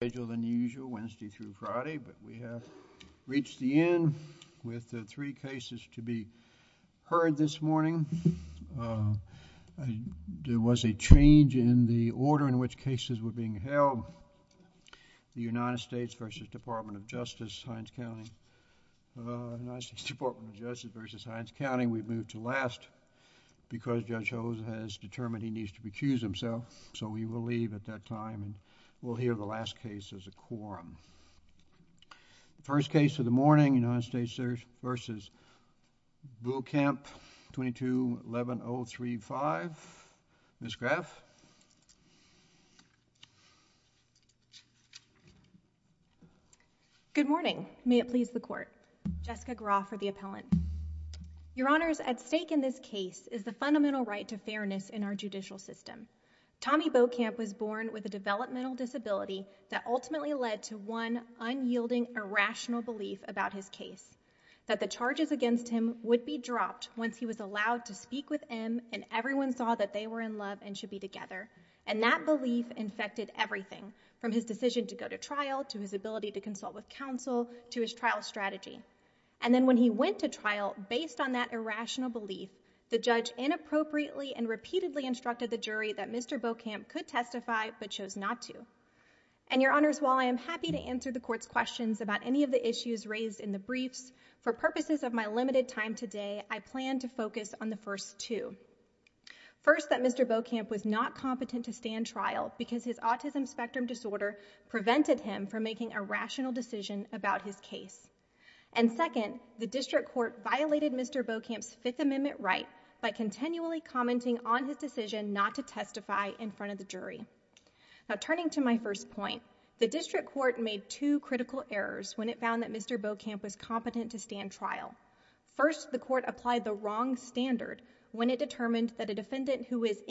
The United States v. Department of Justice v. Hines County The first case of the morning, United States v. Boukamp, 22-11035, Ms. Graff. Good morning. May it please the Court, Jessica Graff for the appellant. Your Honors, at stake in this case is the fundamental right to fairness in our judicial system. Tommy Boukamp was born with a developmental disability that ultimately led to one unyielding irrational belief about his case, that the charges against him would be dropped once he was allowed to speak with M and everyone saw that they were in love and should be together. And that belief infected everything, from his decision to go to trial, to his ability to consult with counsel, to his trial strategy. And then when he went to trial, based on that irrational belief, the judge inappropriately and repeatedly instructed the jury that Mr. Boukamp could testify, but chose not to. And Your Honors, while I am happy to answer the Court's questions about any of the issues raised in the briefs, for purposes of my limited time today, I plan to focus on the first two. First that Mr. Boukamp was not competent to stand trial because his autism spectrum disorder prevented him from making a rational decision about his case. And second, the District Court violated Mr. Boukamp's Fifth Amendment right by continually commenting on his decision not to testify in front of the jury. Now, turning to my first point, the District Court made two critical errors when it found that Mr. Boukamp was competent to stand trial. First, the Court applied the wrong standard when it determined that a defendant who is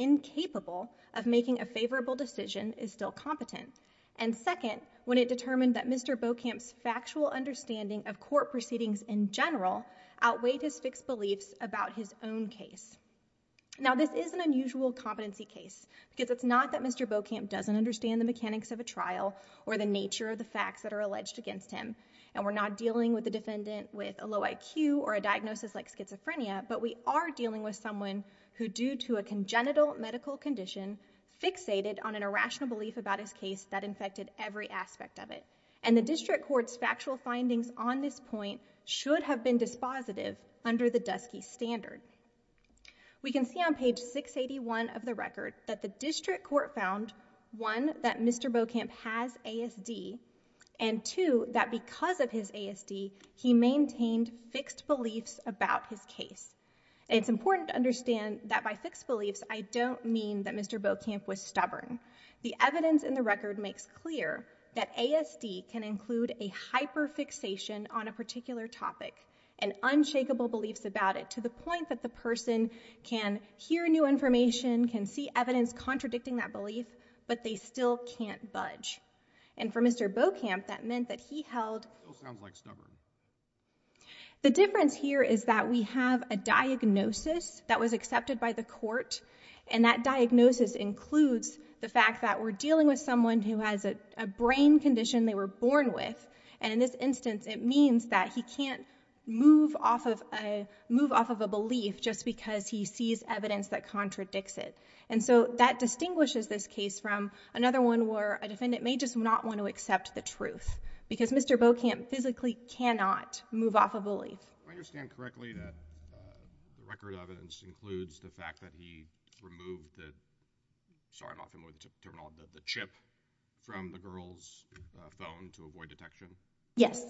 And second, when it determined that Mr. Boukamp's factual understanding of court proceedings in general outweighed his fixed beliefs about his own case. Now this is an unusual competency case, because it's not that Mr. Boukamp doesn't understand the mechanics of a trial or the nature of the facts that are alleged against him. And we're not dealing with a defendant with a low IQ or a diagnosis like schizophrenia, but we are dealing with someone who, due to a congenital medical condition, fixated on an irrational belief about his case that infected every aspect of it. And the District Court's factual findings on this point should have been dispositive under the Dusky Standard. We can see on page 681 of the record that the District Court found, one, that Mr. Boukamp has ASD, and two, that because of his ASD, he maintained fixed beliefs about his case. It's important to understand that by fixed beliefs, I don't mean that Mr. Boukamp was The evidence in the record makes clear that ASD can include a hyperfixation on a particular topic and unshakable beliefs about it, to the point that the person can hear new information, can see evidence contradicting that belief, but they still can't budge. And for Mr. Boukamp, that meant that he held Still sounds like stubborn. The difference here is that we have a diagnosis that was accepted by the court, and that diagnosis includes the fact that we're dealing with someone who has a brain condition they were born with. And in this instance, it means that he can't move off of a belief just because he sees evidence that contradicts it. And so that distinguishes this case from another one where a defendant may just not want to accept the truth, because Mr. Boukamp physically cannot move off a belief. I understand correctly that the record of it includes the fact that he removed the—sorry, I'm not familiar with the terminology—the chip from the girl's phone to avoid detection? Yes.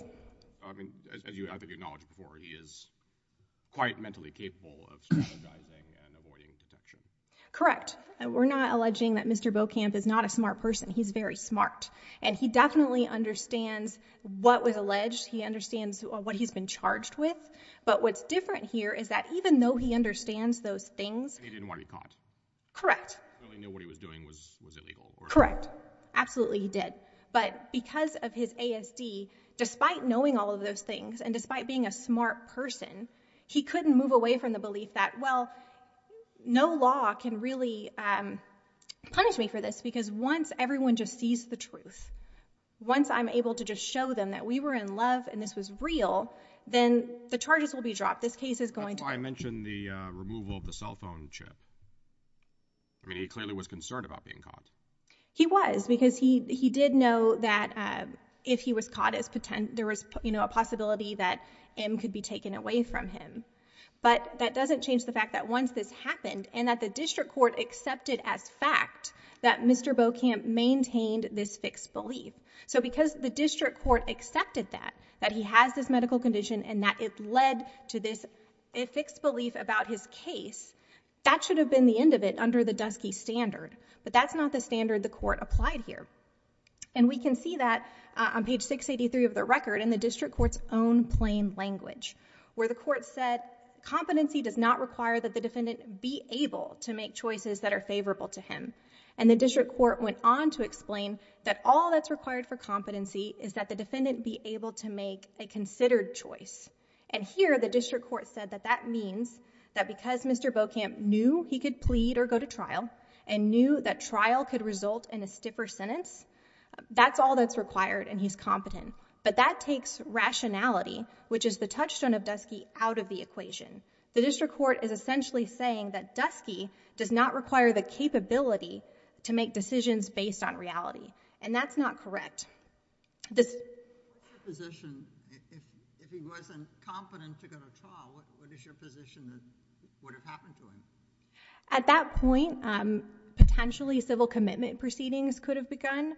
I mean, as you have acknowledged before, he is quite mentally capable of strategizing and avoiding detection. Correct. We're not alleging that Mr. Boukamp is not a smart person. He's very smart. And he definitely understands what was alleged. He understands what he's been charged with. But what's different here is that even though he understands those things— And he didn't want to be caught. Correct. He only knew what he was doing was illegal. Correct. Absolutely, he did. But because of his ASD, despite knowing all of those things, and despite being a smart person, he couldn't move away from the belief that, well, no law can really punish me for this because once everyone just sees the truth, once I'm able to just show them that we were in love and this was real, then the charges will be dropped. This case is going to— That's why I mentioned the removal of the cell phone chip. I mean, he clearly was concerned about being caught. He was because he did know that if he was caught, there was a possibility that him could be taken away from him. But that doesn't change the fact that once this happened and that the district court accepted as fact that Mr. Boukamp maintained this fixed belief. So, because the district court accepted that, that he has this medical condition and that it led to this fixed belief about his case, that should have been the end of it under the Dusky Standard, but that's not the standard the court applied here. And we can see that on page 683 of the record in the district court's own plain language where the court said, competency does not require that the defendant be able to make choices that are favorable to him. And the district court went on to explain that all that's required for competency is that the defendant be able to make a considered choice. And here, the district court said that that means that because Mr. Boukamp knew he could plead or go to trial and knew that trial could result in a stiffer sentence, that's all that's required and he's competent. But that takes rationality, which is the touchstone of Dusky, out of the equation. The district court is essentially saying that Dusky does not require the capability to make decisions based on reality. And that's not correct. This... If he wasn't competent to go to trial, what is your position that would have happened to him? At that point, potentially civil commitment proceedings could have begun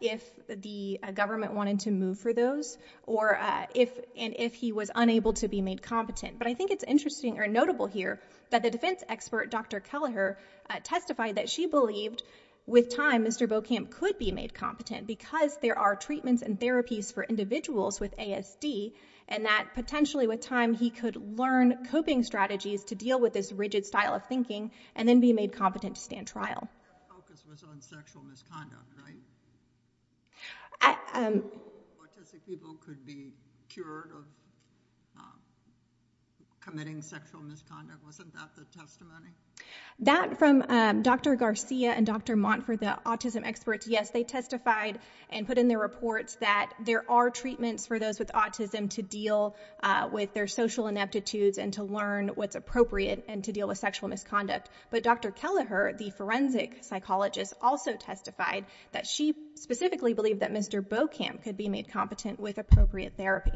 if the government wanted to move for those or if he was unable to be made competent. But I think it's interesting or notable here that the defense expert, Dr. Kelleher, testified that she believed with time Mr. Boukamp could be made competent because there are treatments and therapies for individuals with ASD and that potentially with time he could learn coping strategies to deal with this rigid style of thinking and then be made competent to stand trial. Your focus was on sexual misconduct, right? Autistic people could be cured of... Committing sexual misconduct. Wasn't that the testimony? That from Dr. Garcia and Dr. Montfort, the autism experts, yes, they testified and put in their reports that there are treatments for those with autism to deal with their social ineptitudes and to learn what's appropriate and to deal with sexual misconduct. But Dr. Kelleher, the forensic psychologist, also testified that she specifically believed that Mr. Boukamp could be made competent with appropriate therapy.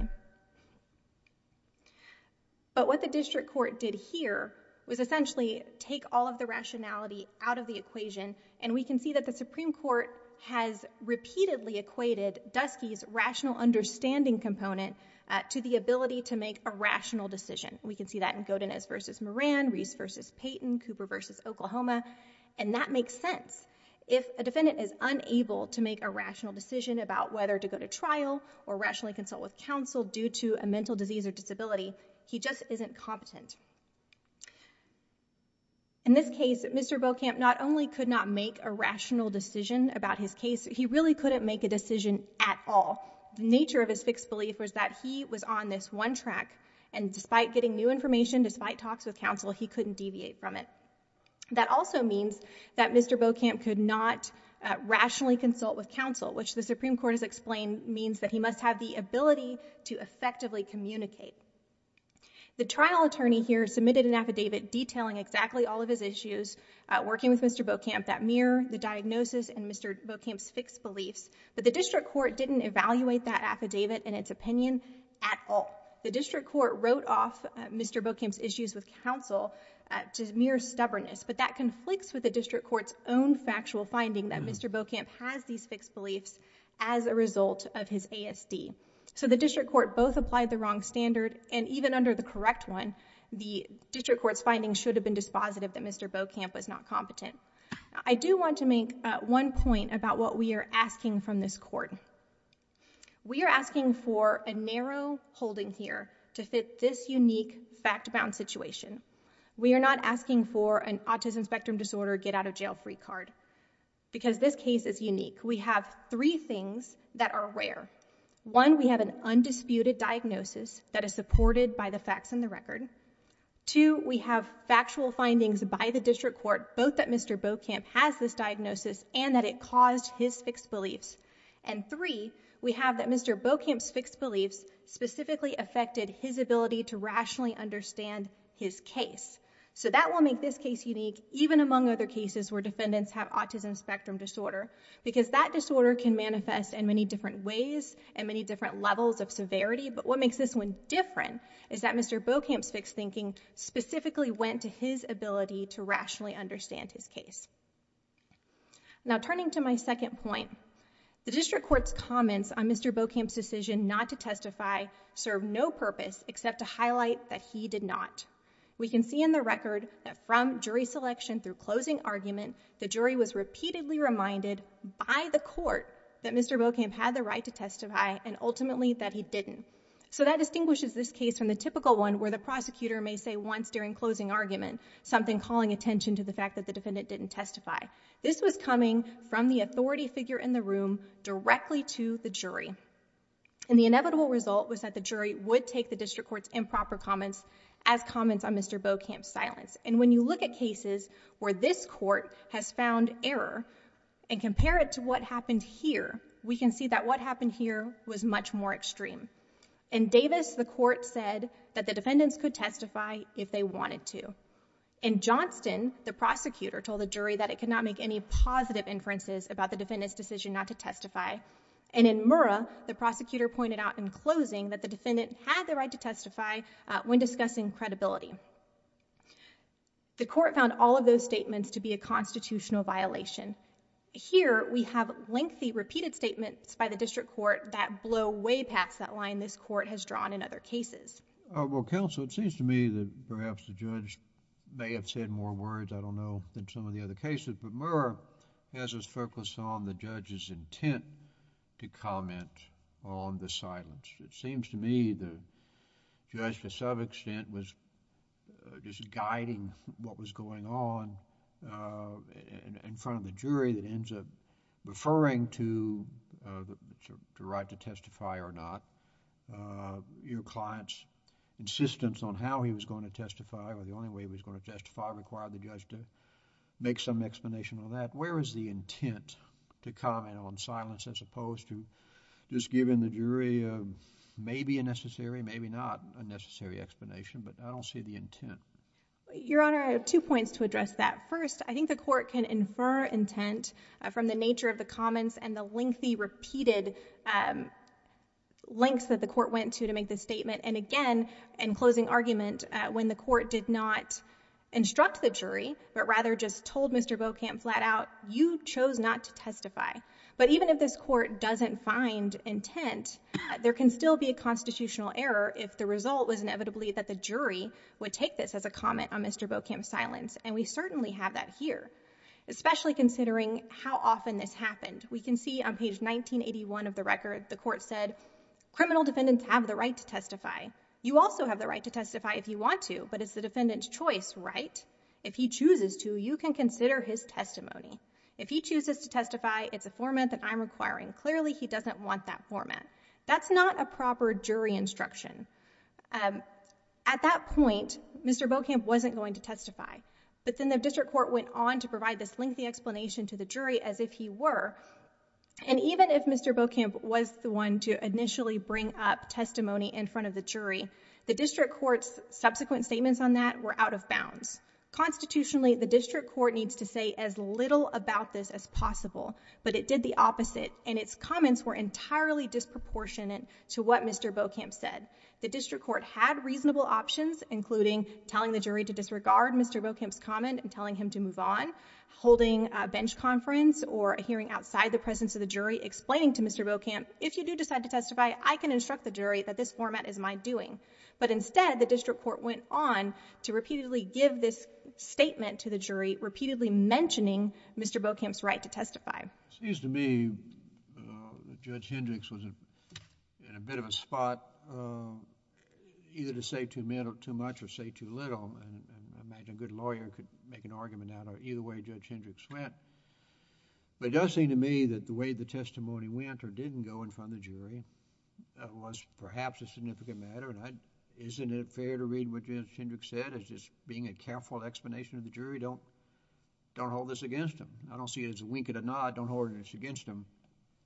But what the district court did here was essentially take all of the rationality out of the equation and we can see that the Supreme Court has repeatedly equated Dusky's rational understanding component to the ability to make a rational decision. We can see that in Godinez v. Moran, Reese v. Payton, Cooper v. Oklahoma, and that makes sense. If a defendant is unable to make a rational decision about whether to go to trial or rationally consult with counsel due to a mental disease or disability, he just isn't competent. In this case, Mr. Boukamp not only could not make a rational decision about his case, he really couldn't make a decision at all. The nature of his fixed belief was that he was on this one track and despite getting new information, despite talks with counsel, he couldn't deviate from it. That also means that Mr. Boukamp could not rationally consult with counsel, which the ability to effectively communicate. The trial attorney here submitted an affidavit detailing exactly all of his issues working with Mr. Boukamp that mirror the diagnosis and Mr. Boukamp's fixed beliefs, but the district court didn't evaluate that affidavit in its opinion at all. The district court wrote off Mr. Boukamp's issues with counsel to mere stubbornness, but that conflicts with the district court's own factual finding that Mr. Boukamp has these So the district court both applied the wrong standard and even under the correct one, the district court's finding should have been dispositive that Mr. Boukamp was not competent. I do want to make one point about what we are asking from this court. We are asking for a narrow holding here to fit this unique fact-bound situation. We are not asking for an autism spectrum disorder get out of jail free card because this case is unique. We have three things that are rare. One, we have an undisputed diagnosis that is supported by the facts in the record. Two, we have factual findings by the district court both that Mr. Boukamp has this diagnosis and that it caused his fixed beliefs. And three, we have that Mr. Boukamp's fixed beliefs specifically affected his ability to rationally understand his case. So that will make this case unique even among other cases where defendants have autism spectrum disorder because that disorder can manifest in many different ways and many different levels of severity. But what makes this one different is that Mr. Boukamp's fixed thinking specifically went to his ability to rationally understand his case. Now turning to my second point, the district court's comments on Mr. Boukamp's decision not to testify serve no purpose except to highlight that he did not. We can see in the record that from jury selection through closing argument, the jury was repeatedly reminded by the court that Mr. Boukamp had the right to testify and ultimately that he didn't. So that distinguishes this case from the typical one where the prosecutor may say once during closing argument something calling attention to the fact that the defendant didn't testify. This was coming from the authority figure in the room directly to the jury. And the inevitable result was that the jury would take the district court's improper comments as comments on Mr. Boukamp's silence. And when you look at cases where this court has found error and compare it to what happened here, we can see that what happened here was much more extreme. In Davis, the court said that the defendants could testify if they wanted to. In Johnston, the prosecutor told the jury that it could not make any positive inferences about the defendant's decision not to testify. And in Murrah, the prosecutor pointed out in closing that the defendant had the right to testify when discussing credibility. The court found all of those statements to be a constitutional violation. Here we have lengthy repeated statements by the district court that blow way past that line this court has drawn in other cases. Well, counsel, it seems to me that perhaps the judge may have said more words, I don't know, than some of the other cases, but Murrah has us focus on the judge's intent to comment on the silence. It seems to me the judge to some extent was just guiding what was going on in front of the jury that ends up referring to the right to testify or not. Your client's insistence on how he was going to testify or the only way he was going to testify required the judge to make some explanation on that. Where is the intent to comment on silence as opposed to just giving the jury maybe a necessary, maybe not a necessary explanation, but I don't see the intent. Your Honor, I have two points to address that. First, I think the court can infer intent from the nature of the comments and the lengthy repeated links that the court went to to make the statement. And again, in closing argument, when the court did not instruct the jury, but rather just told Mr. Beaucamp flat out, you chose not to testify. But even if this court doesn't find intent, there can still be a constitutional error if the result was inevitably that the jury would take this as a comment on Mr. Beaucamp's silence, and we certainly have that here, especially considering how often this happened. We can see on page 1981 of the record, the court said, criminal defendants have the right to testify. You also have the right to testify if you want to, but it's the defendant's choice, right? If he chooses to, you can consider his testimony. If he chooses to testify, it's a format that I'm requiring. Clearly, he doesn't want that format. That's not a proper jury instruction. At that point, Mr. Beaucamp wasn't going to testify, but then the district court went on to provide this lengthy explanation to the jury as if he were, and even if Mr. Beaucamp was the one to initially bring up testimony in front of the jury, the district court's Constitutionally, the district court needs to say as little about this as possible, but it did the opposite, and its comments were entirely disproportionate to what Mr. Beaucamp said. The district court had reasonable options, including telling the jury to disregard Mr. Beaucamp's comment and telling him to move on, holding a bench conference or a hearing outside the presence of the jury, explaining to Mr. Beaucamp, if you do decide to testify, I can instruct the jury that this format is my doing. Instead, the district court went on to repeatedly give this statement to the jury, repeatedly mentioning Mr. Beaucamp's right to testify. It seems to me that Judge Hendricks was in a bit of a spot either to say too much or say too little. I imagine a good lawyer could make an argument out of either way Judge Hendricks went, but it does seem to me that the way the testimony went or didn't go in front of the jury was perhaps a significant matter. Isn't it fair to read what Judge Hendricks said as just being a careful explanation of the jury? Don't hold this against him. I don't see it as a wink and a nod. Don't hold it against him.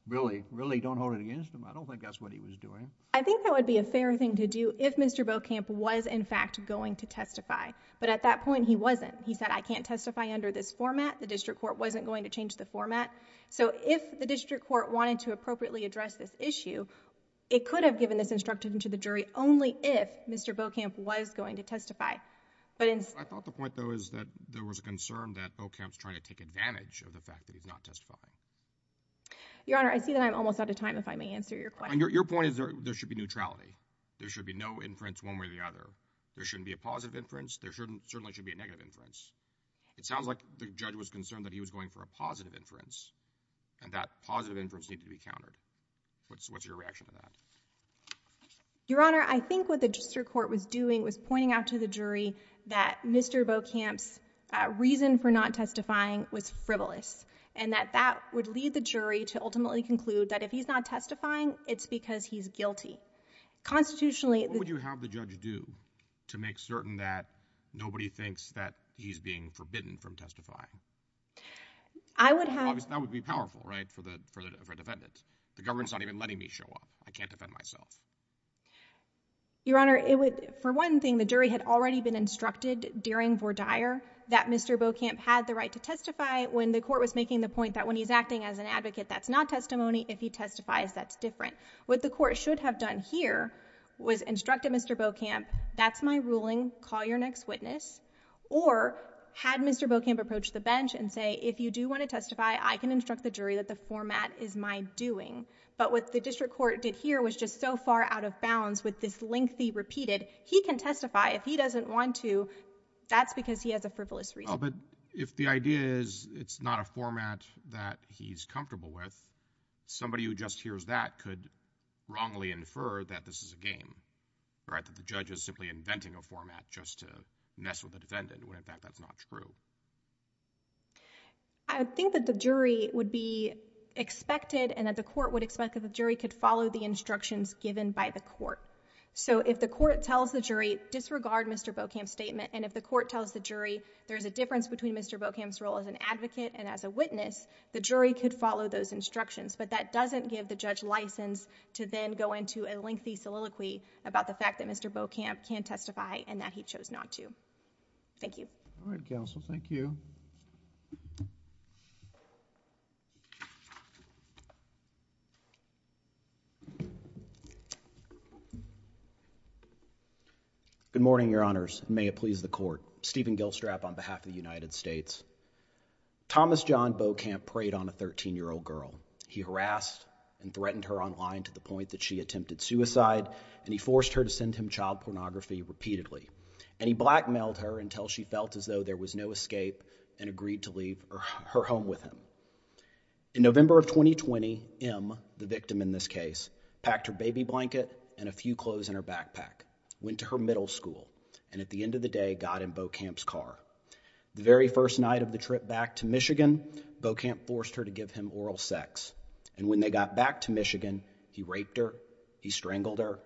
Really, really don't hold it against him. I don't think that's what he was doing. I think that would be a fair thing to do if Mr. Beaucamp was in fact going to testify, but at that point he wasn't. He said, I can't testify under this format. The district court wasn't going to change the format, so if the district court wanted to appropriately address this issue, it could have given this instruction to the jury only if Mr. Beaucamp was going to testify. I thought the point though is that there was a concern that Beaucamp's trying to take advantage of the fact that he's not testifying. Your Honor, I see that I'm almost out of time if I may answer your question. Your point is there should be neutrality. There should be no inference one way or the other. There shouldn't be a positive inference. There certainly shouldn't be a negative inference. It sounds like the judge was concerned that he was going for a positive inference, and that positive inference needed to be countered. What's your reaction to that? Your Honor, I think what the district court was doing was pointing out to the jury that Mr. Beaucamp's reason for not testifying was frivolous, and that that would lead the jury to ultimately conclude that if he's not testifying, it's because he's guilty. Constitutionally, the- What would you have the judge do to make certain that nobody thinks that he's being forbidden from testifying? I would have- That would be powerful, right, for a defendant. The government's not even letting me show up. I can't defend myself. Your Honor, for one thing, the jury had already been instructed during Vordire that Mr. Beaucamp had the right to testify when the court was making the point that when he's acting as an advocate, that's not testimony. If he testifies, that's different. What the court should have done here was instructed Mr. Beaucamp, that's my ruling. Call your next witness. Or had Mr. Beaucamp approached the bench and say, if you do want to testify, I can instruct the jury that the format is my doing. But what the district court did here was just so far out of bounds with this lengthy repeated, he can testify. If he doesn't want to, that's because he has a frivolous reason. Well, but if the idea is it's not a format that he's comfortable with, somebody who just hears that could wrongly infer that this is a game, right, that the judge is simply inventing a format just to mess with the defendant, when in fact that's not true. I think that the jury would be expected and that the court would expect that the jury could follow the instructions given by the court. So if the court tells the jury, disregard Mr. Beaucamp's statement, and if the court tells the jury there's a difference between Mr. Beaucamp's role as an advocate and as a witness, the jury could follow those instructions. But that doesn't give the judge license to then go into a lengthy soliloquy about the night and that he chose not to. Thank you. All right, counsel. Thank you. Good morning, Your Honors. May it please the Court. Stephen Gilstrap on behalf of the United States. Thomas John Beaucamp preyed on a 13-year-old girl. He harassed and threatened her online to the point that she attempted suicide, and he forced her to send him child pornography repeatedly, and he blackmailed her until she felt as though there was no escape and agreed to leave her home with him. In November of 2020, M, the victim in this case, packed her baby blanket and a few clothes in her backpack, went to her middle school, and at the end of the day got in Beaucamp's car. The very first night of the trip back to Michigan, Beaucamp forced her to give him oral sex, and when they got back to Michigan, he raped her, he strangled her.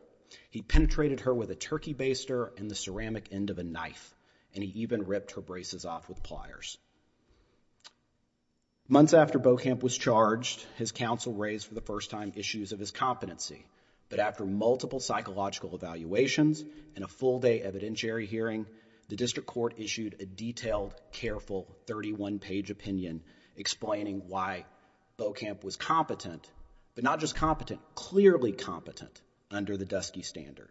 He penetrated her with a turkey baster and the ceramic end of a knife, and he even ripped her braces off with pliers. Months after Beaucamp was charged, his counsel raised for the first time issues of his competency, but after multiple psychological evaluations and a full-day evidentiary hearing, the district court issued a detailed, careful 31-page opinion explaining why Beaucamp was competent, but not just competent, clearly competent under the Dusky Standard,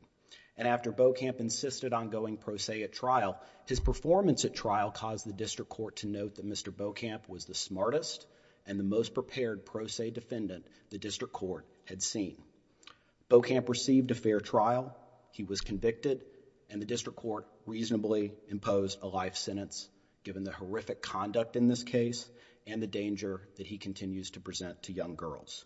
and after Beaucamp insisted on going pro se at trial, his performance at trial caused the district court to note that Mr. Beaucamp was the smartest and the most prepared pro se defendant the district court had seen. Beaucamp received a fair trial, he was convicted, and the district court reasonably imposed a life sentence given the horrific conduct in this case and the danger that he continues to present to young girls.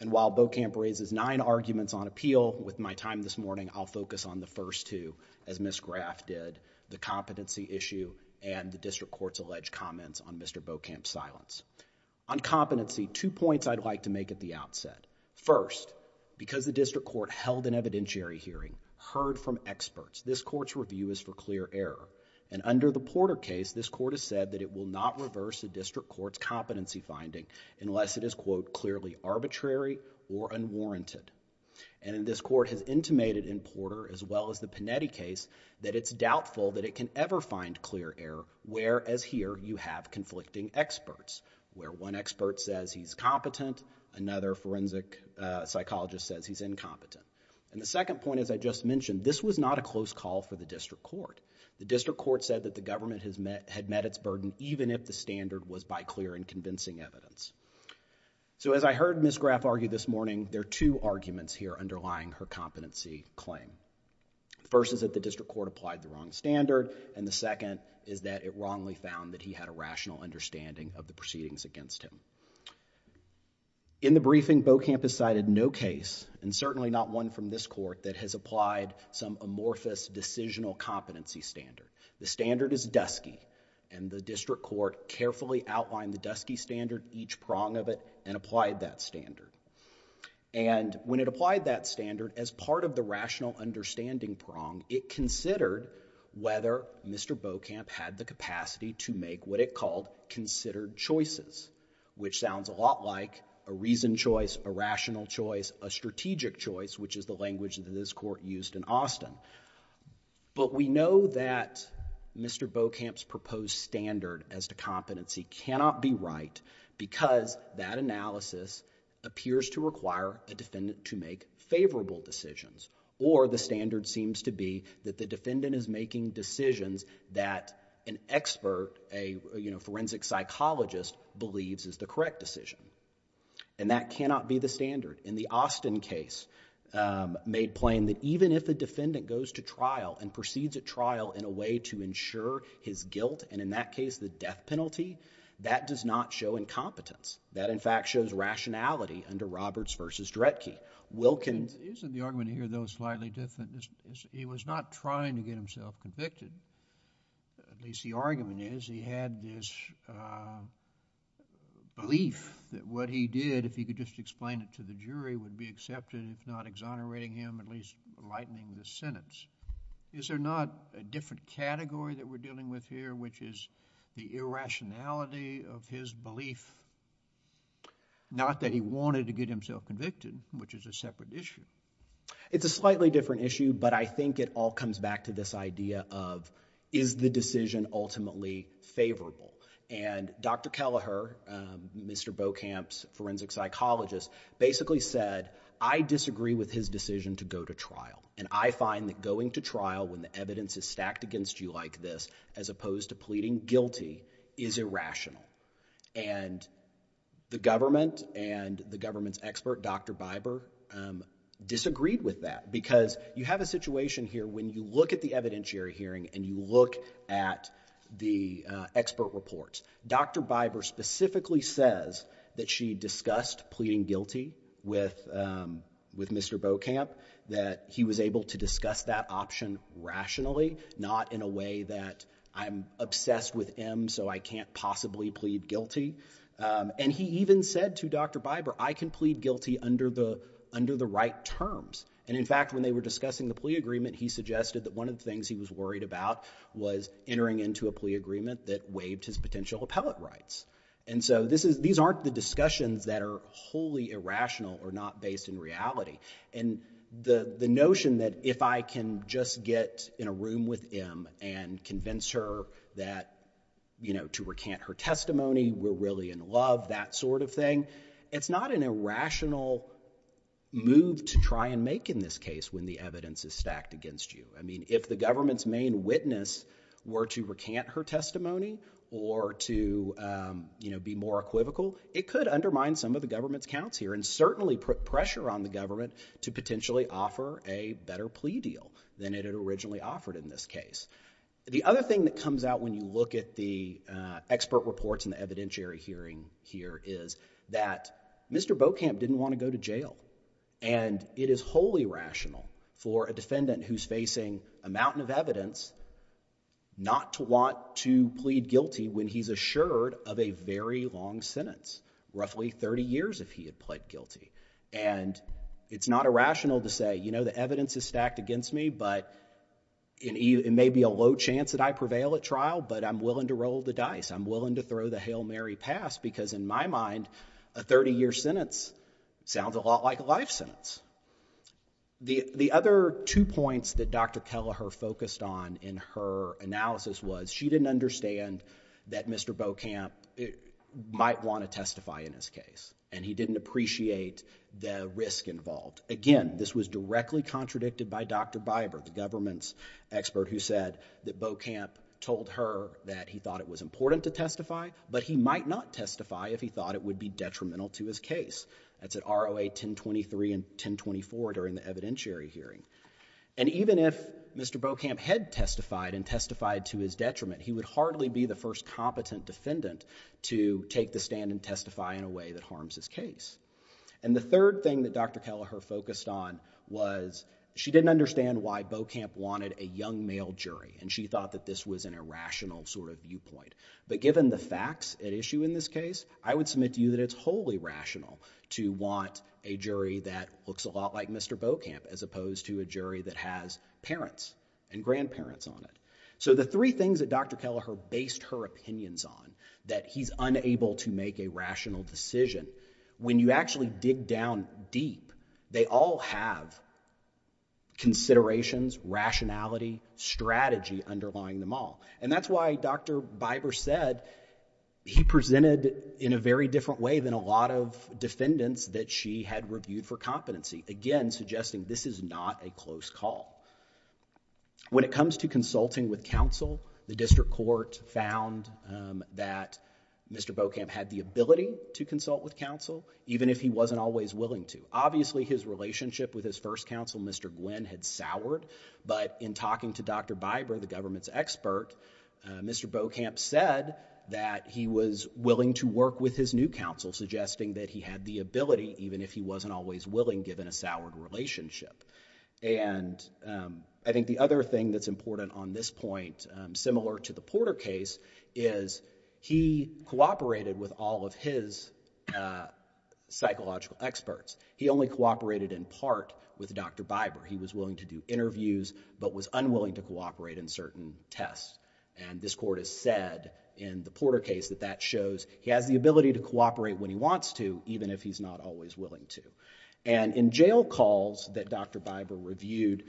And while Beaucamp raises nine arguments on appeal, with my time this morning, I'll focus on the first two, as Ms. Graff did, the competency issue and the district court's alleged comments on Mr. Beaucamp's silence. On competency, two points I'd like to make at the outset. First, because the district court held an evidentiary hearing, heard from experts, this court's review is for clear error, and under the Porter case, this court has said that it will not reverse the district court's competency finding unless it is, quote, clearly arbitrary or unwarranted. And this court has intimated in Porter, as well as the Panetti case, that it's doubtful that it can ever find clear error, whereas here you have conflicting experts, where one expert says he's competent, another forensic psychologist says he's incompetent. And the second point, as I just mentioned, this was not a close call for the district court. The district court said that the government had met its burden even if the standard was by clear and convincing evidence. So as I heard Ms. Graff argue this morning, there are two arguments here underlying her competency claim. First is that the district court applied the wrong standard, and the second is that it wrongly found that he had a rational understanding of the proceedings against him. In the briefing, Beaucamp has cited no case, and certainly not one from this court, that has applied some amorphous decisional competency standard. The standard is dusky, and the district court carefully outlined the dusky standard, each prong of it, and applied that standard. And when it applied that standard, as part of the rational understanding prong, it considered whether Mr. Beaucamp had the capacity to make what it called considered choices, which sounds a lot like a reasoned choice, a rational choice, a strategic choice, which is the language that this court used in Austin. But we know that Mr. Beaucamp's proposed standard as to competency cannot be right, because that analysis appears to require a defendant to make favorable decisions, or the standard seems to be that the defendant is making decisions that an expert, a forensic psychologist, believes is the correct decision. And that cannot be the standard. In the Austin case, made plain that even if a defendant goes to trial and proceeds at trial in a way to ensure his guilt, and in that case, the death penalty, that does not show incompetence. That, in fact, shows rationality under Roberts v. Dredge. Wilkins Isn't the argument here, though, slightly different? He was not trying to get himself convicted, at least the argument is he had this belief that what he did, if he could just explain it to the jury, would be accepted, if not exonerating him, at least lightening the sentence. Is there not a different category that we're dealing with here, which is the irrationality of his belief, not that he wanted to get himself convicted, which is a separate issue? It's a slightly different issue, but I think it all comes back to this idea of is the decision ultimately favorable? And Dr. Kelleher, Mr. Bocamp's forensic psychologist, basically said, I disagree with his decision to go to trial. And I find that going to trial when the evidence is stacked against you like this, as opposed to pleading guilty, is irrational. And the government and the government's expert, Dr. Biber, disagreed with that. Because you have a situation here when you look at the evidentiary hearing and you look at the expert reports, Dr. Biber specifically says that she discussed pleading guilty with Mr. Bocamp, that he was able to discuss that option rationally, not in a way that I'm obsessed with M, so I can't possibly plead guilty. And he even said to Dr. Biber, I can plead guilty under the right terms. And in fact, when they were discussing the plea agreement, he suggested that one of the things he was worried about was entering into a plea agreement that waived his potential appellate rights. And so these aren't the discussions that are wholly irrational or not based in reality. And the notion that if I can just get in a room with M and convince her to recant her testimony, we're really in love, that sort of thing, it's not an irrational move to try and make in this case when the evidence is stacked against you. I mean, if the government's main witness were to recant her testimony or to, you know, be more equivocal, it could undermine some of the government's counts here and certainly put pressure on the government to potentially offer a better plea deal than it had originally offered in this case. The other thing that comes out when you look at the expert reports in the evidentiary hearing here is that Mr. Bocamp didn't want to go to jail. And it is wholly rational for a defendant who's facing a mountain of evidence not to want to plead guilty when he's assured of a very long sentence, roughly 30 years if he had pled guilty. And it's not irrational to say, you know, the evidence is stacked against me, but it may be a low chance that I prevail at trial, but I'm willing to roll the dice, I'm willing to throw the Hail Mary pass because in my mind, a 30-year sentence sounds a lot like a life sentence. The other two points that Dr. Kelleher focused on in her analysis was she didn't understand that Mr. Bocamp might want to testify in this case, and he didn't appreciate the risk involved. Again, this was directly contradicted by Dr. Biber, the government's expert who said that he might testify, but he might not testify if he thought it would be detrimental to his case. That's at ROA 1023 and 1024 during the evidentiary hearing. And even if Mr. Bocamp had testified and testified to his detriment, he would hardly be the first competent defendant to take the stand and testify in a way that harms his case. And the third thing that Dr. Kelleher focused on was she didn't understand why Bocamp wanted a young male jury, and she thought that this was an irrational sort of viewpoint. But given the facts at issue in this case, I would submit to you that it's wholly rational to want a jury that looks a lot like Mr. Bocamp as opposed to a jury that has parents and grandparents on it. So the three things that Dr. Kelleher based her opinions on, that he's unable to make a rational decision, when you actually dig down deep, they all have considerations, rationality, strategy underlying them all. And that's why Dr. Biber said he presented in a very different way than a lot of defendants that she had reviewed for competency, again, suggesting this is not a close call. When it comes to consulting with counsel, the district court found that Mr. Bocamp had the ability to consult with counsel, even if he wasn't always willing to. Obviously his relationship with his first counsel, Mr. Gwinn, had soured, but in talking to Dr. Biber, the government's expert, Mr. Bocamp said that he was willing to work with his new counsel, suggesting that he had the ability, even if he wasn't always willing, given a soured relationship. And I think the other thing that's important on this point, similar to the Porter case, is he cooperated with all of his psychological experts. He only cooperated in part with Dr. Biber. He was willing to do interviews, but was unwilling to cooperate in certain tests. And this court has said in the Porter case that that shows he has the ability to cooperate when he wants to, even if he's not always willing to. And in jail calls that Dr. Biber reviewed,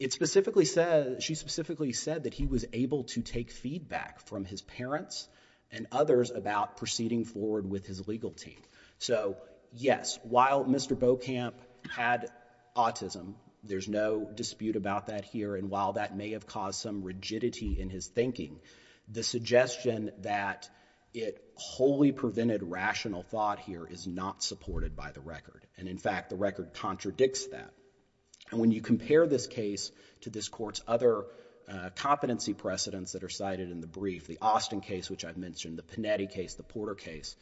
it specifically says, she specifically said that he was able to take feedback from his parents and others about proceeding forward with his legal team. So yes, while Mr. Bocamp had autism, there's no dispute about that here. And while that may have caused some rigidity in his thinking, the suggestion that it wholly prevented rational thought here is not supported by the record. And in fact, the record contradicts that. And when you compare this case to this court's other competency precedents that are cited in the brief, the Austin case, which I've mentioned, the Panetti case, the Porter case,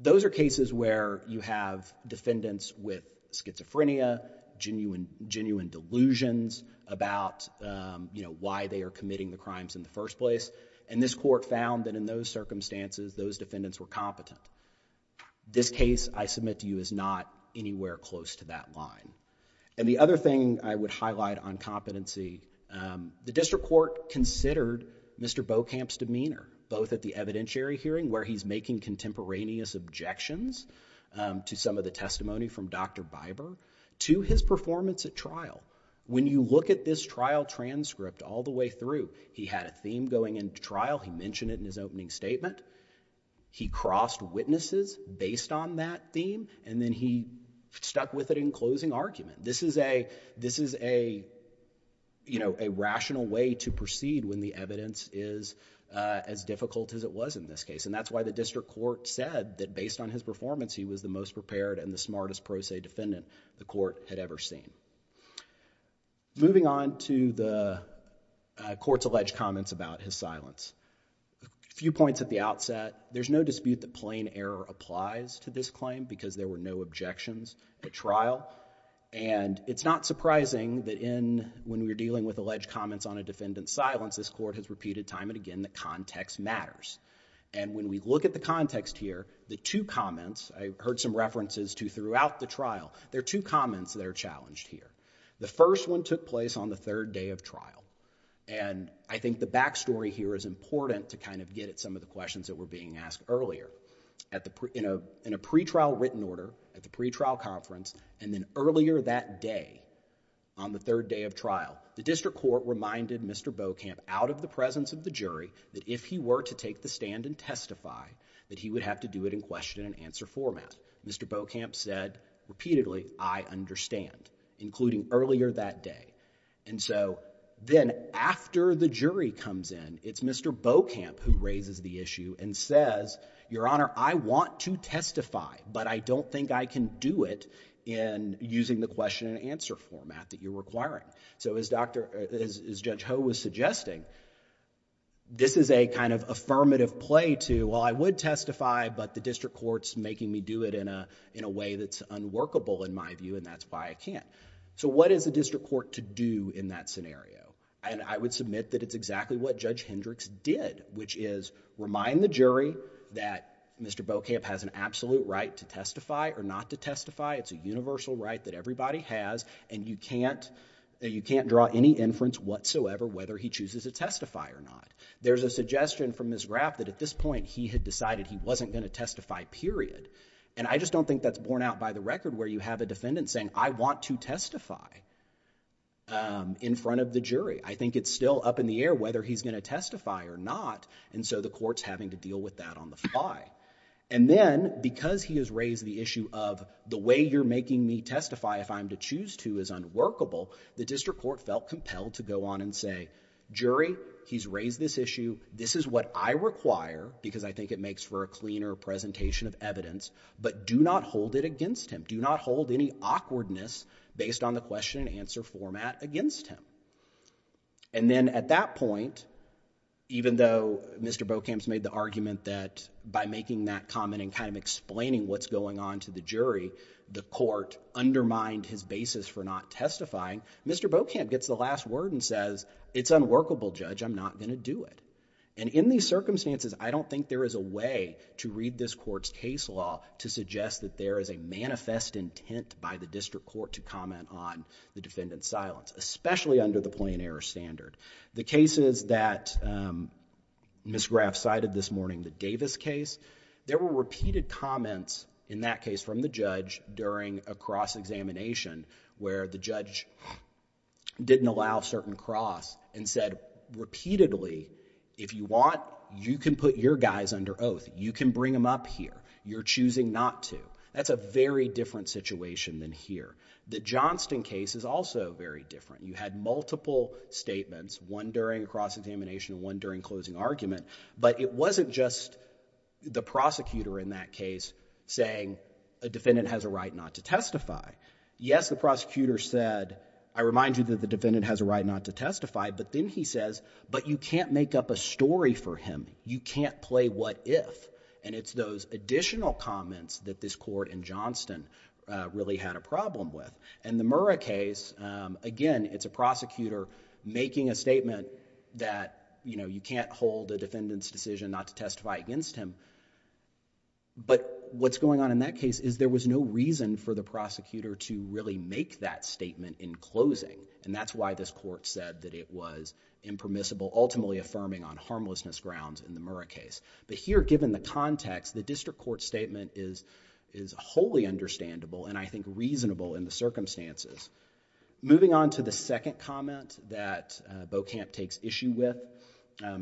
those are cases where you have defendants with schizophrenia, genuine delusions about, you know, why they are committing the crimes in the first place. And this court found that in those circumstances, those defendants were competent. This case, I submit to you, is not anywhere close to that line. And the other thing I would highlight on competency, the district court considered Mr. Bocamp's erroneous objections to some of the testimony from Dr. Biber to his performance at trial. When you look at this trial transcript all the way through, he had a theme going into trial. He mentioned it in his opening statement. He crossed witnesses based on that theme, and then he stuck with it in closing argument. This is a, you know, a rational way to proceed when the evidence is as difficult as it was in this case. And that's why the district court said that based on his performance, he was the most prepared and the smartest pro se defendant the court had ever seen. Moving on to the court's alleged comments about his silence, a few points at the outset, there's no dispute that plain error applies to this claim because there were no objections at trial. And it's not surprising that in, when we're dealing with alleged comments on a defendant's silence, this court has repeated time and again that context matters. And when we look at the context here, the two comments, I heard some references to throughout the trial, there are two comments that are challenged here. The first one took place on the third day of trial, and I think the backstory here is important to kind of get at some of the questions that were being asked earlier. At the, you know, in a pretrial written order, at the pretrial conference, and then earlier that day on the third day of trial, the district court reminded Mr. Bocamp out of the presence of the jury that if he were to take the stand and testify, that he would have to do it in question and answer format. Mr. Bocamp said repeatedly, I understand, including earlier that day. And so then after the jury comes in, it's Mr. Bocamp who raises the issue and says, Your Honor, I want to testify, but I don't think I can do it in using the question and answer format that you're requiring. So as Dr. — as Judge Ho was suggesting, this is a kind of affirmative play to, well, I would testify, but the district court's making me do it in a way that's unworkable in my view, and that's why I can't. So what is the district court to do in that scenario? And I would submit that it's exactly what Judge Hendricks did, which is remind the jury that Mr. Bocamp has an absolute right to testify or not to testify. It's a universal right that everybody has, and you can't — you can't draw any inference whatsoever whether he chooses to testify or not. There's a suggestion from Ms. Graff that at this point he had decided he wasn't going to testify, period. And I just don't think that's borne out by the record where you have a defendant saying, I want to testify in front of the jury. I think it's still up in the air whether he's going to testify or not, and so the court's having to deal with that on the fly. And then, because he has raised the issue of the way you're making me testify if I'm to choose to is unworkable, the district court felt compelled to go on and say, jury, he's raised this issue, this is what I require, because I think it makes for a cleaner presentation of evidence, but do not hold it against him. Do not hold any awkwardness based on the question and answer format against him. And then at that point, even though Mr. Bocamp's made the argument that by making that comment and kind of explaining what's going on to the jury, the court undermined his basis for not testifying, Mr. Bocamp gets the last word and says, it's unworkable, Judge, I'm not going to do it. And in these circumstances, I don't think there is a way to read this court's case law to suggest that there is a manifest intent by the district court to comment on the defendant's silence, especially under the plain error standard. The cases that Ms. Graff cited this morning, the Davis case, there were repeated comments in that case from the judge during a cross-examination where the judge didn't allow certain cross and said repeatedly, if you want, you can put your guys under oath, you can bring them up here, you're choosing not to. That's a very different situation than here. The Johnston case is also very different. You had multiple statements, one during a cross-examination and one during closing argument, but it wasn't just the prosecutor in that case saying a defendant has a right not to testify. Yes, the prosecutor said, I remind you that the defendant has a right not to testify, but then he says, but you can't make up a story for him, you can't play what if. It's those additional comments that this court in Johnston really had a problem with. The Murrah case, again, it's a prosecutor making a statement that you can't hold a defendant's decision not to testify against him, but what's going on in that case is there was no reason for the prosecutor to really make that statement in closing. That's why this court said that it was impermissible, ultimately affirming on harmlessness grounds in the Murrah case. But here, given the context, the district court statement is wholly understandable and I think reasonable in the circumstances. Moving on to the second comment that Bocamp takes issue with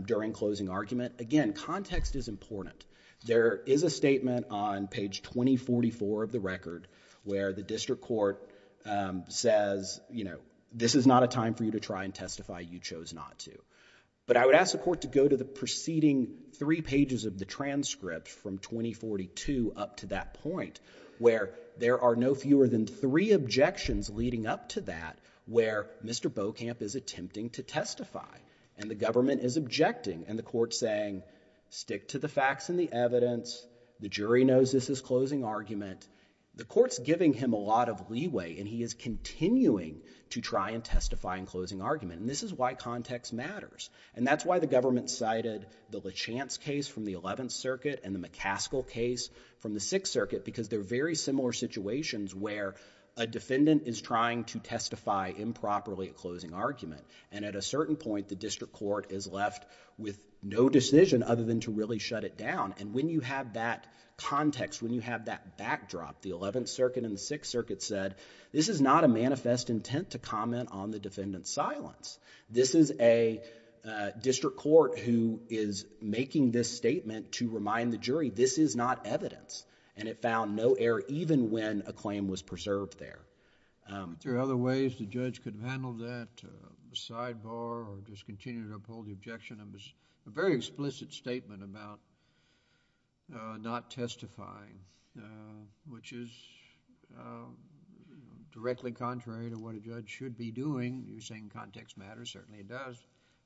during closing argument. Again, context is important. There is a statement on page 2044 of the record where the district court says, this is not a time for you to try and testify, you chose not to. But I would ask the court to go to the preceding three pages of the transcript from 2042 up to that point where there are no fewer than three objections leading up to that where Mr. Bocamp is attempting to testify and the government is objecting and the court saying, stick to the facts and the evidence, the jury knows this is closing argument. The court's giving him a lot of leeway and he is continuing to try and testify in closing argument. And this is why context matters. And that's why the government cited the LeChance case from the 11th Circuit and the McCaskill case from the 6th Circuit because they're very similar situations where a defendant is trying to testify improperly at closing argument. And at a certain point, the district court is left with no decision other than to really shut it down. And when you have that context, when you have that backdrop, the 11th Circuit and the 6th Circuit, this is not evidence. This is a district court who is making this statement to remind the jury this is not evidence and it found no error even when a claim was preserved there. Are there other ways the judge could handle that, sidebar or just continue to uphold the objection? It was a very explicit statement about not testifying which is directly contrary to what a judge should be doing. You're saying context matters. Certainly, it does.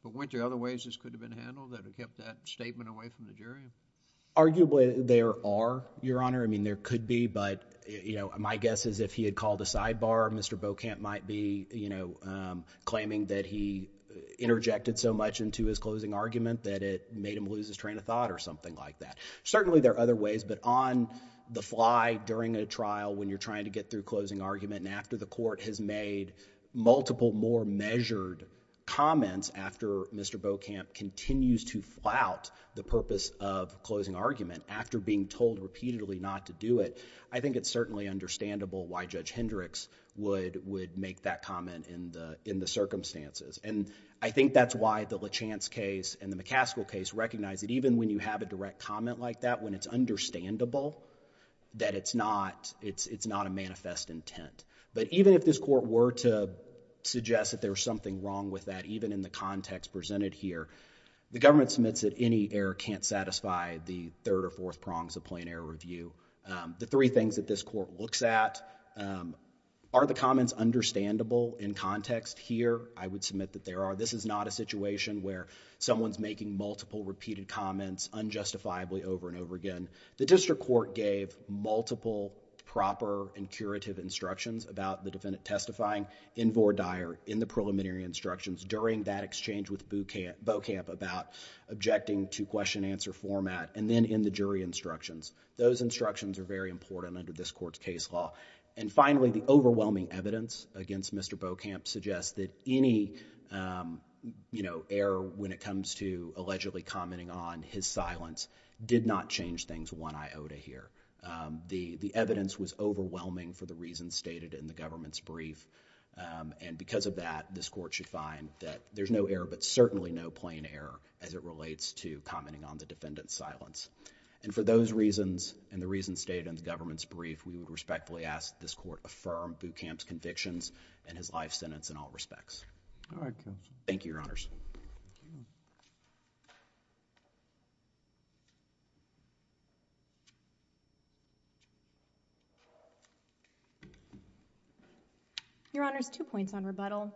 But weren't there other ways this could have been handled that have kept that statement away from the jury? Arguably, there are, Your Honor. I mean, there could be, but, you know, my guess is if he had called a sidebar, Mr. Bocamp might be, you know, claiming that he interjected so much into his closing argument that it made him lose his train of thought or something like that. Certainly there are other ways, but on the fly during a trial when you're trying to get through closing argument and after the court has made multiple more measured comments after Mr. Bocamp continues to flout the purpose of closing argument after being told repeatedly not to do it, I think it's certainly understandable why Judge Hendricks would make that comment in the circumstances. And I think that's why the Lachance case and the McCaskill case recognize that even when you have a direct comment like that, when it's understandable that it's not a manifest intent. But even if this court were to suggest that there's something wrong with that, even in the context presented here, the government submits that any error can't satisfy the third or fourth prongs of plain error review. The three things that this court looks at, are the comments understandable in context here? I would submit that there are. This is not a situation where someone's making multiple repeated comments unjustifiably over and over again. The district court gave multiple proper and curative instructions about the defendant testifying in vore dire, in the preliminary instructions during that exchange with Bocamp about objecting to question answer format, and then in the jury instructions. Those instructions are very important under this court's case law. And finally, the overwhelming evidence against Mr. Bocamp suggests that any error when it comes to allegedly commenting on his silence did not change things one iota here. The evidence was overwhelming for the reasons stated in the government's brief, and because of that, this court should find that there's no error, but certainly no plain error as it relates to commenting on the defendant's silence. And for those reasons and the reasons stated in the government's brief, we would respectfully ask that this court affirm Bocamp's convictions and his life sentence in all respects. Thank you, Your Honors. Your Honors, two points on rebuttal.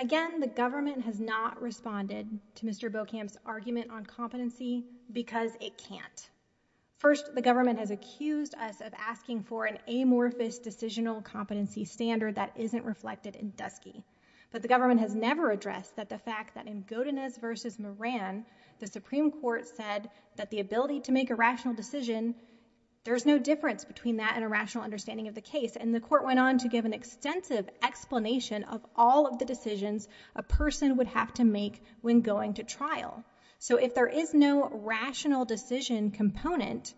Again, the government has not responded to Mr. Bocamp's argument on competency because it can't. First, the government has accused us of asking for an amorphous decisional competency standard that isn't reflected in Dusky, but the government has never addressed that the fact that in Godinez v. Moran, the Supreme Court said that the ability to make a rational decision, there's no difference between that and a rational understanding of the case, and the court went on to give an extensive explanation of all of the decisions a person would have to make when going to trial. So if there is no rational decision component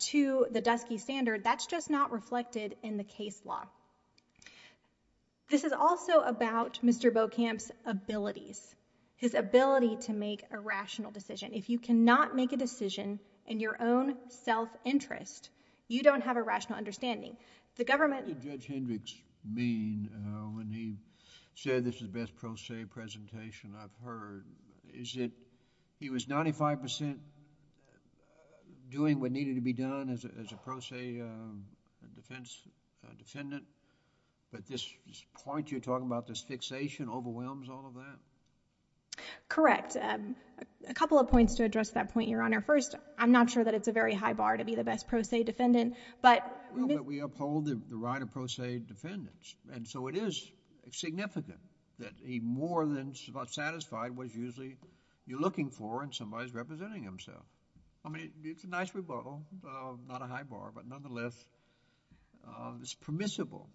to the Dusky standard, that's just not reflected in the case law. This is also about Mr. Bocamp's abilities, his ability to make a rational decision. If you cannot make a decision in your own self-interest, you don't have a rational understanding. The government... What did Judge Hendricks mean when he said this is the best pro se presentation I've ever heard? Is it he was 95% doing what needed to be done as a pro se defendant, but this point you're talking about, this fixation overwhelms all of that? Correct. A couple of points to address that point, Your Honor. First, I'm not sure that it's a very high bar to be the best pro se defendant, but... Well, but we uphold the right of pro se defendants, and so it is significant that he more than perhaps is not satisfied with usually what you're looking for in somebody who's representing himself. I mean, it's a nice rebuttal, not a high bar, but nonetheless, it's permissible.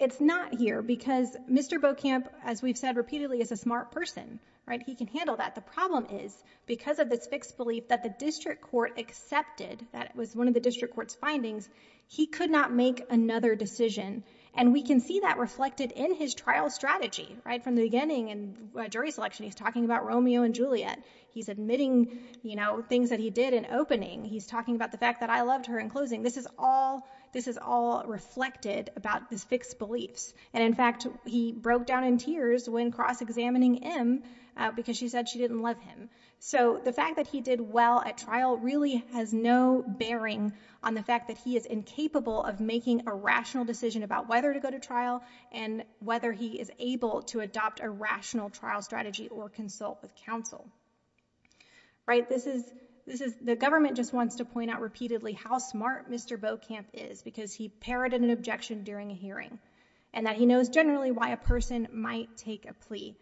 It's not here because Mr. Bocamp, as we've said repeatedly, is a smart person, right? He can handle that. The problem is because of this fixed belief that the district court accepted, that it was one of the district court's findings, he could not make another decision, and we can see that reflected in his trial strategy, right? From the beginning in jury selection, he's talking about Romeo and Juliet. He's admitting, you know, things that he did in opening. He's talking about the fact that I loved her in closing. This is all... this is all reflected about his fixed beliefs, and in fact, he broke down in tears when cross-examining him because she said she didn't love him. So the fact that he did well at trial really has no bearing on the fact that he is incapable of making a rational decision about whether to go to trial and whether he is able to adopt a rational trial strategy or consult with counsel, right? This is... the government just wants to point out repeatedly how smart Mr. Bocamp is because he parroted an objection during a hearing and that he knows generally why a person might take a plea,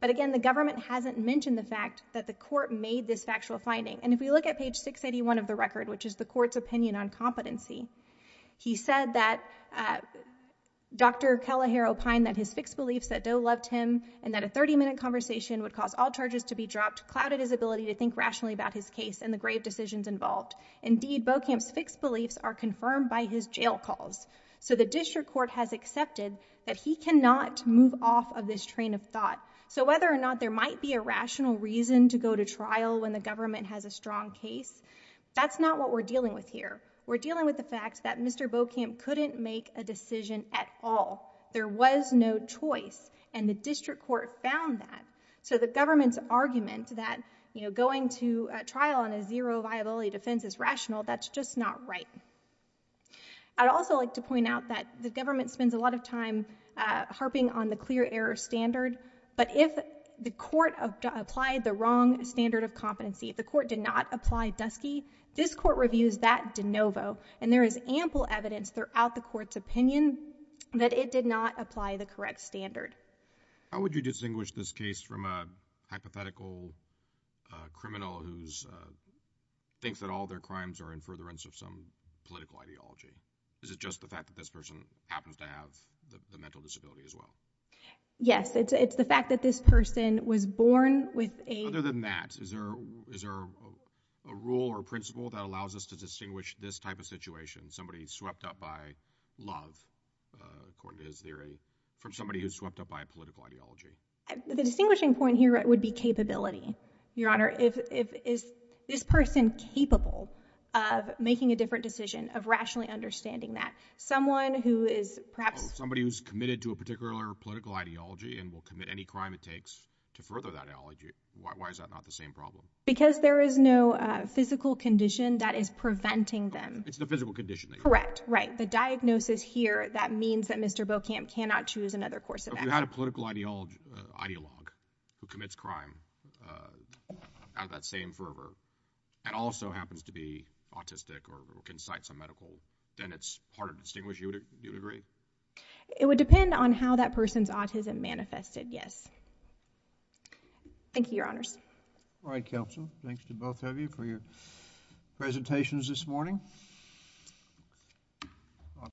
but again, the government hasn't mentioned the fact that the court made this factual finding, and if we look at page 681 of the record, which is the court's opinion on competency, he said that Dr. Kelleher opined that his fixed beliefs that Doe loved him and that a 30-minute conversation would cause all charges to be dropped clouded his ability to think rationally about his case and the grave decisions involved. Indeed, Bocamp's fixed beliefs are confirmed by his jail calls. So the district court has accepted that he cannot move off of this train of thought. So whether or not there might be a rational reason to go to trial when the government has a strong case, that's not what we're dealing with here. We're dealing with the fact that Mr. Bocamp couldn't make a decision at all. There was no choice, and the district court found that. So the government's argument that going to trial on a zero-viability defense is rational, that's just not right. I'd also like to point out that the government spends a lot of time harping on the clear error standard, but if the court applied the wrong standard of competency, if the court did not apply DUSCIE, this court reviews that de novo, and there is ample evidence throughout the court's opinion that it did not apply the correct standard. How would you distinguish this case from a hypothetical criminal who thinks that all their crimes are in furtherance of some political ideology? Is it just the fact that this person happens to have the mental disability as well? Yes. It's the fact that this person was born with a— A rule or principle that allows us to distinguish this type of situation, somebody swept up by love, according to his theory, from somebody who's swept up by a political ideology. The distinguishing point here would be capability, Your Honor. Is this person capable of making a different decision, of rationally understanding that? Someone who is perhaps— Somebody who's committed to a particular political ideology and will commit any crime it takes to further that ideology. Why is that not the same problem? Because there is no physical condition that is preventing them. It's the physical condition that— Correct. Right. The diagnosis here, that means that Mr. Beaucamp cannot choose another course of action. If you had a political ideologue who commits crime out of that same fervor, and also happens to be autistic or can cite some medical, then it's hard to distinguish, you would agree? It would depend on how that person's autism manifested, yes. Thank you, Your Honors. All right, counsel. Thanks to both of you for your presentations this morning.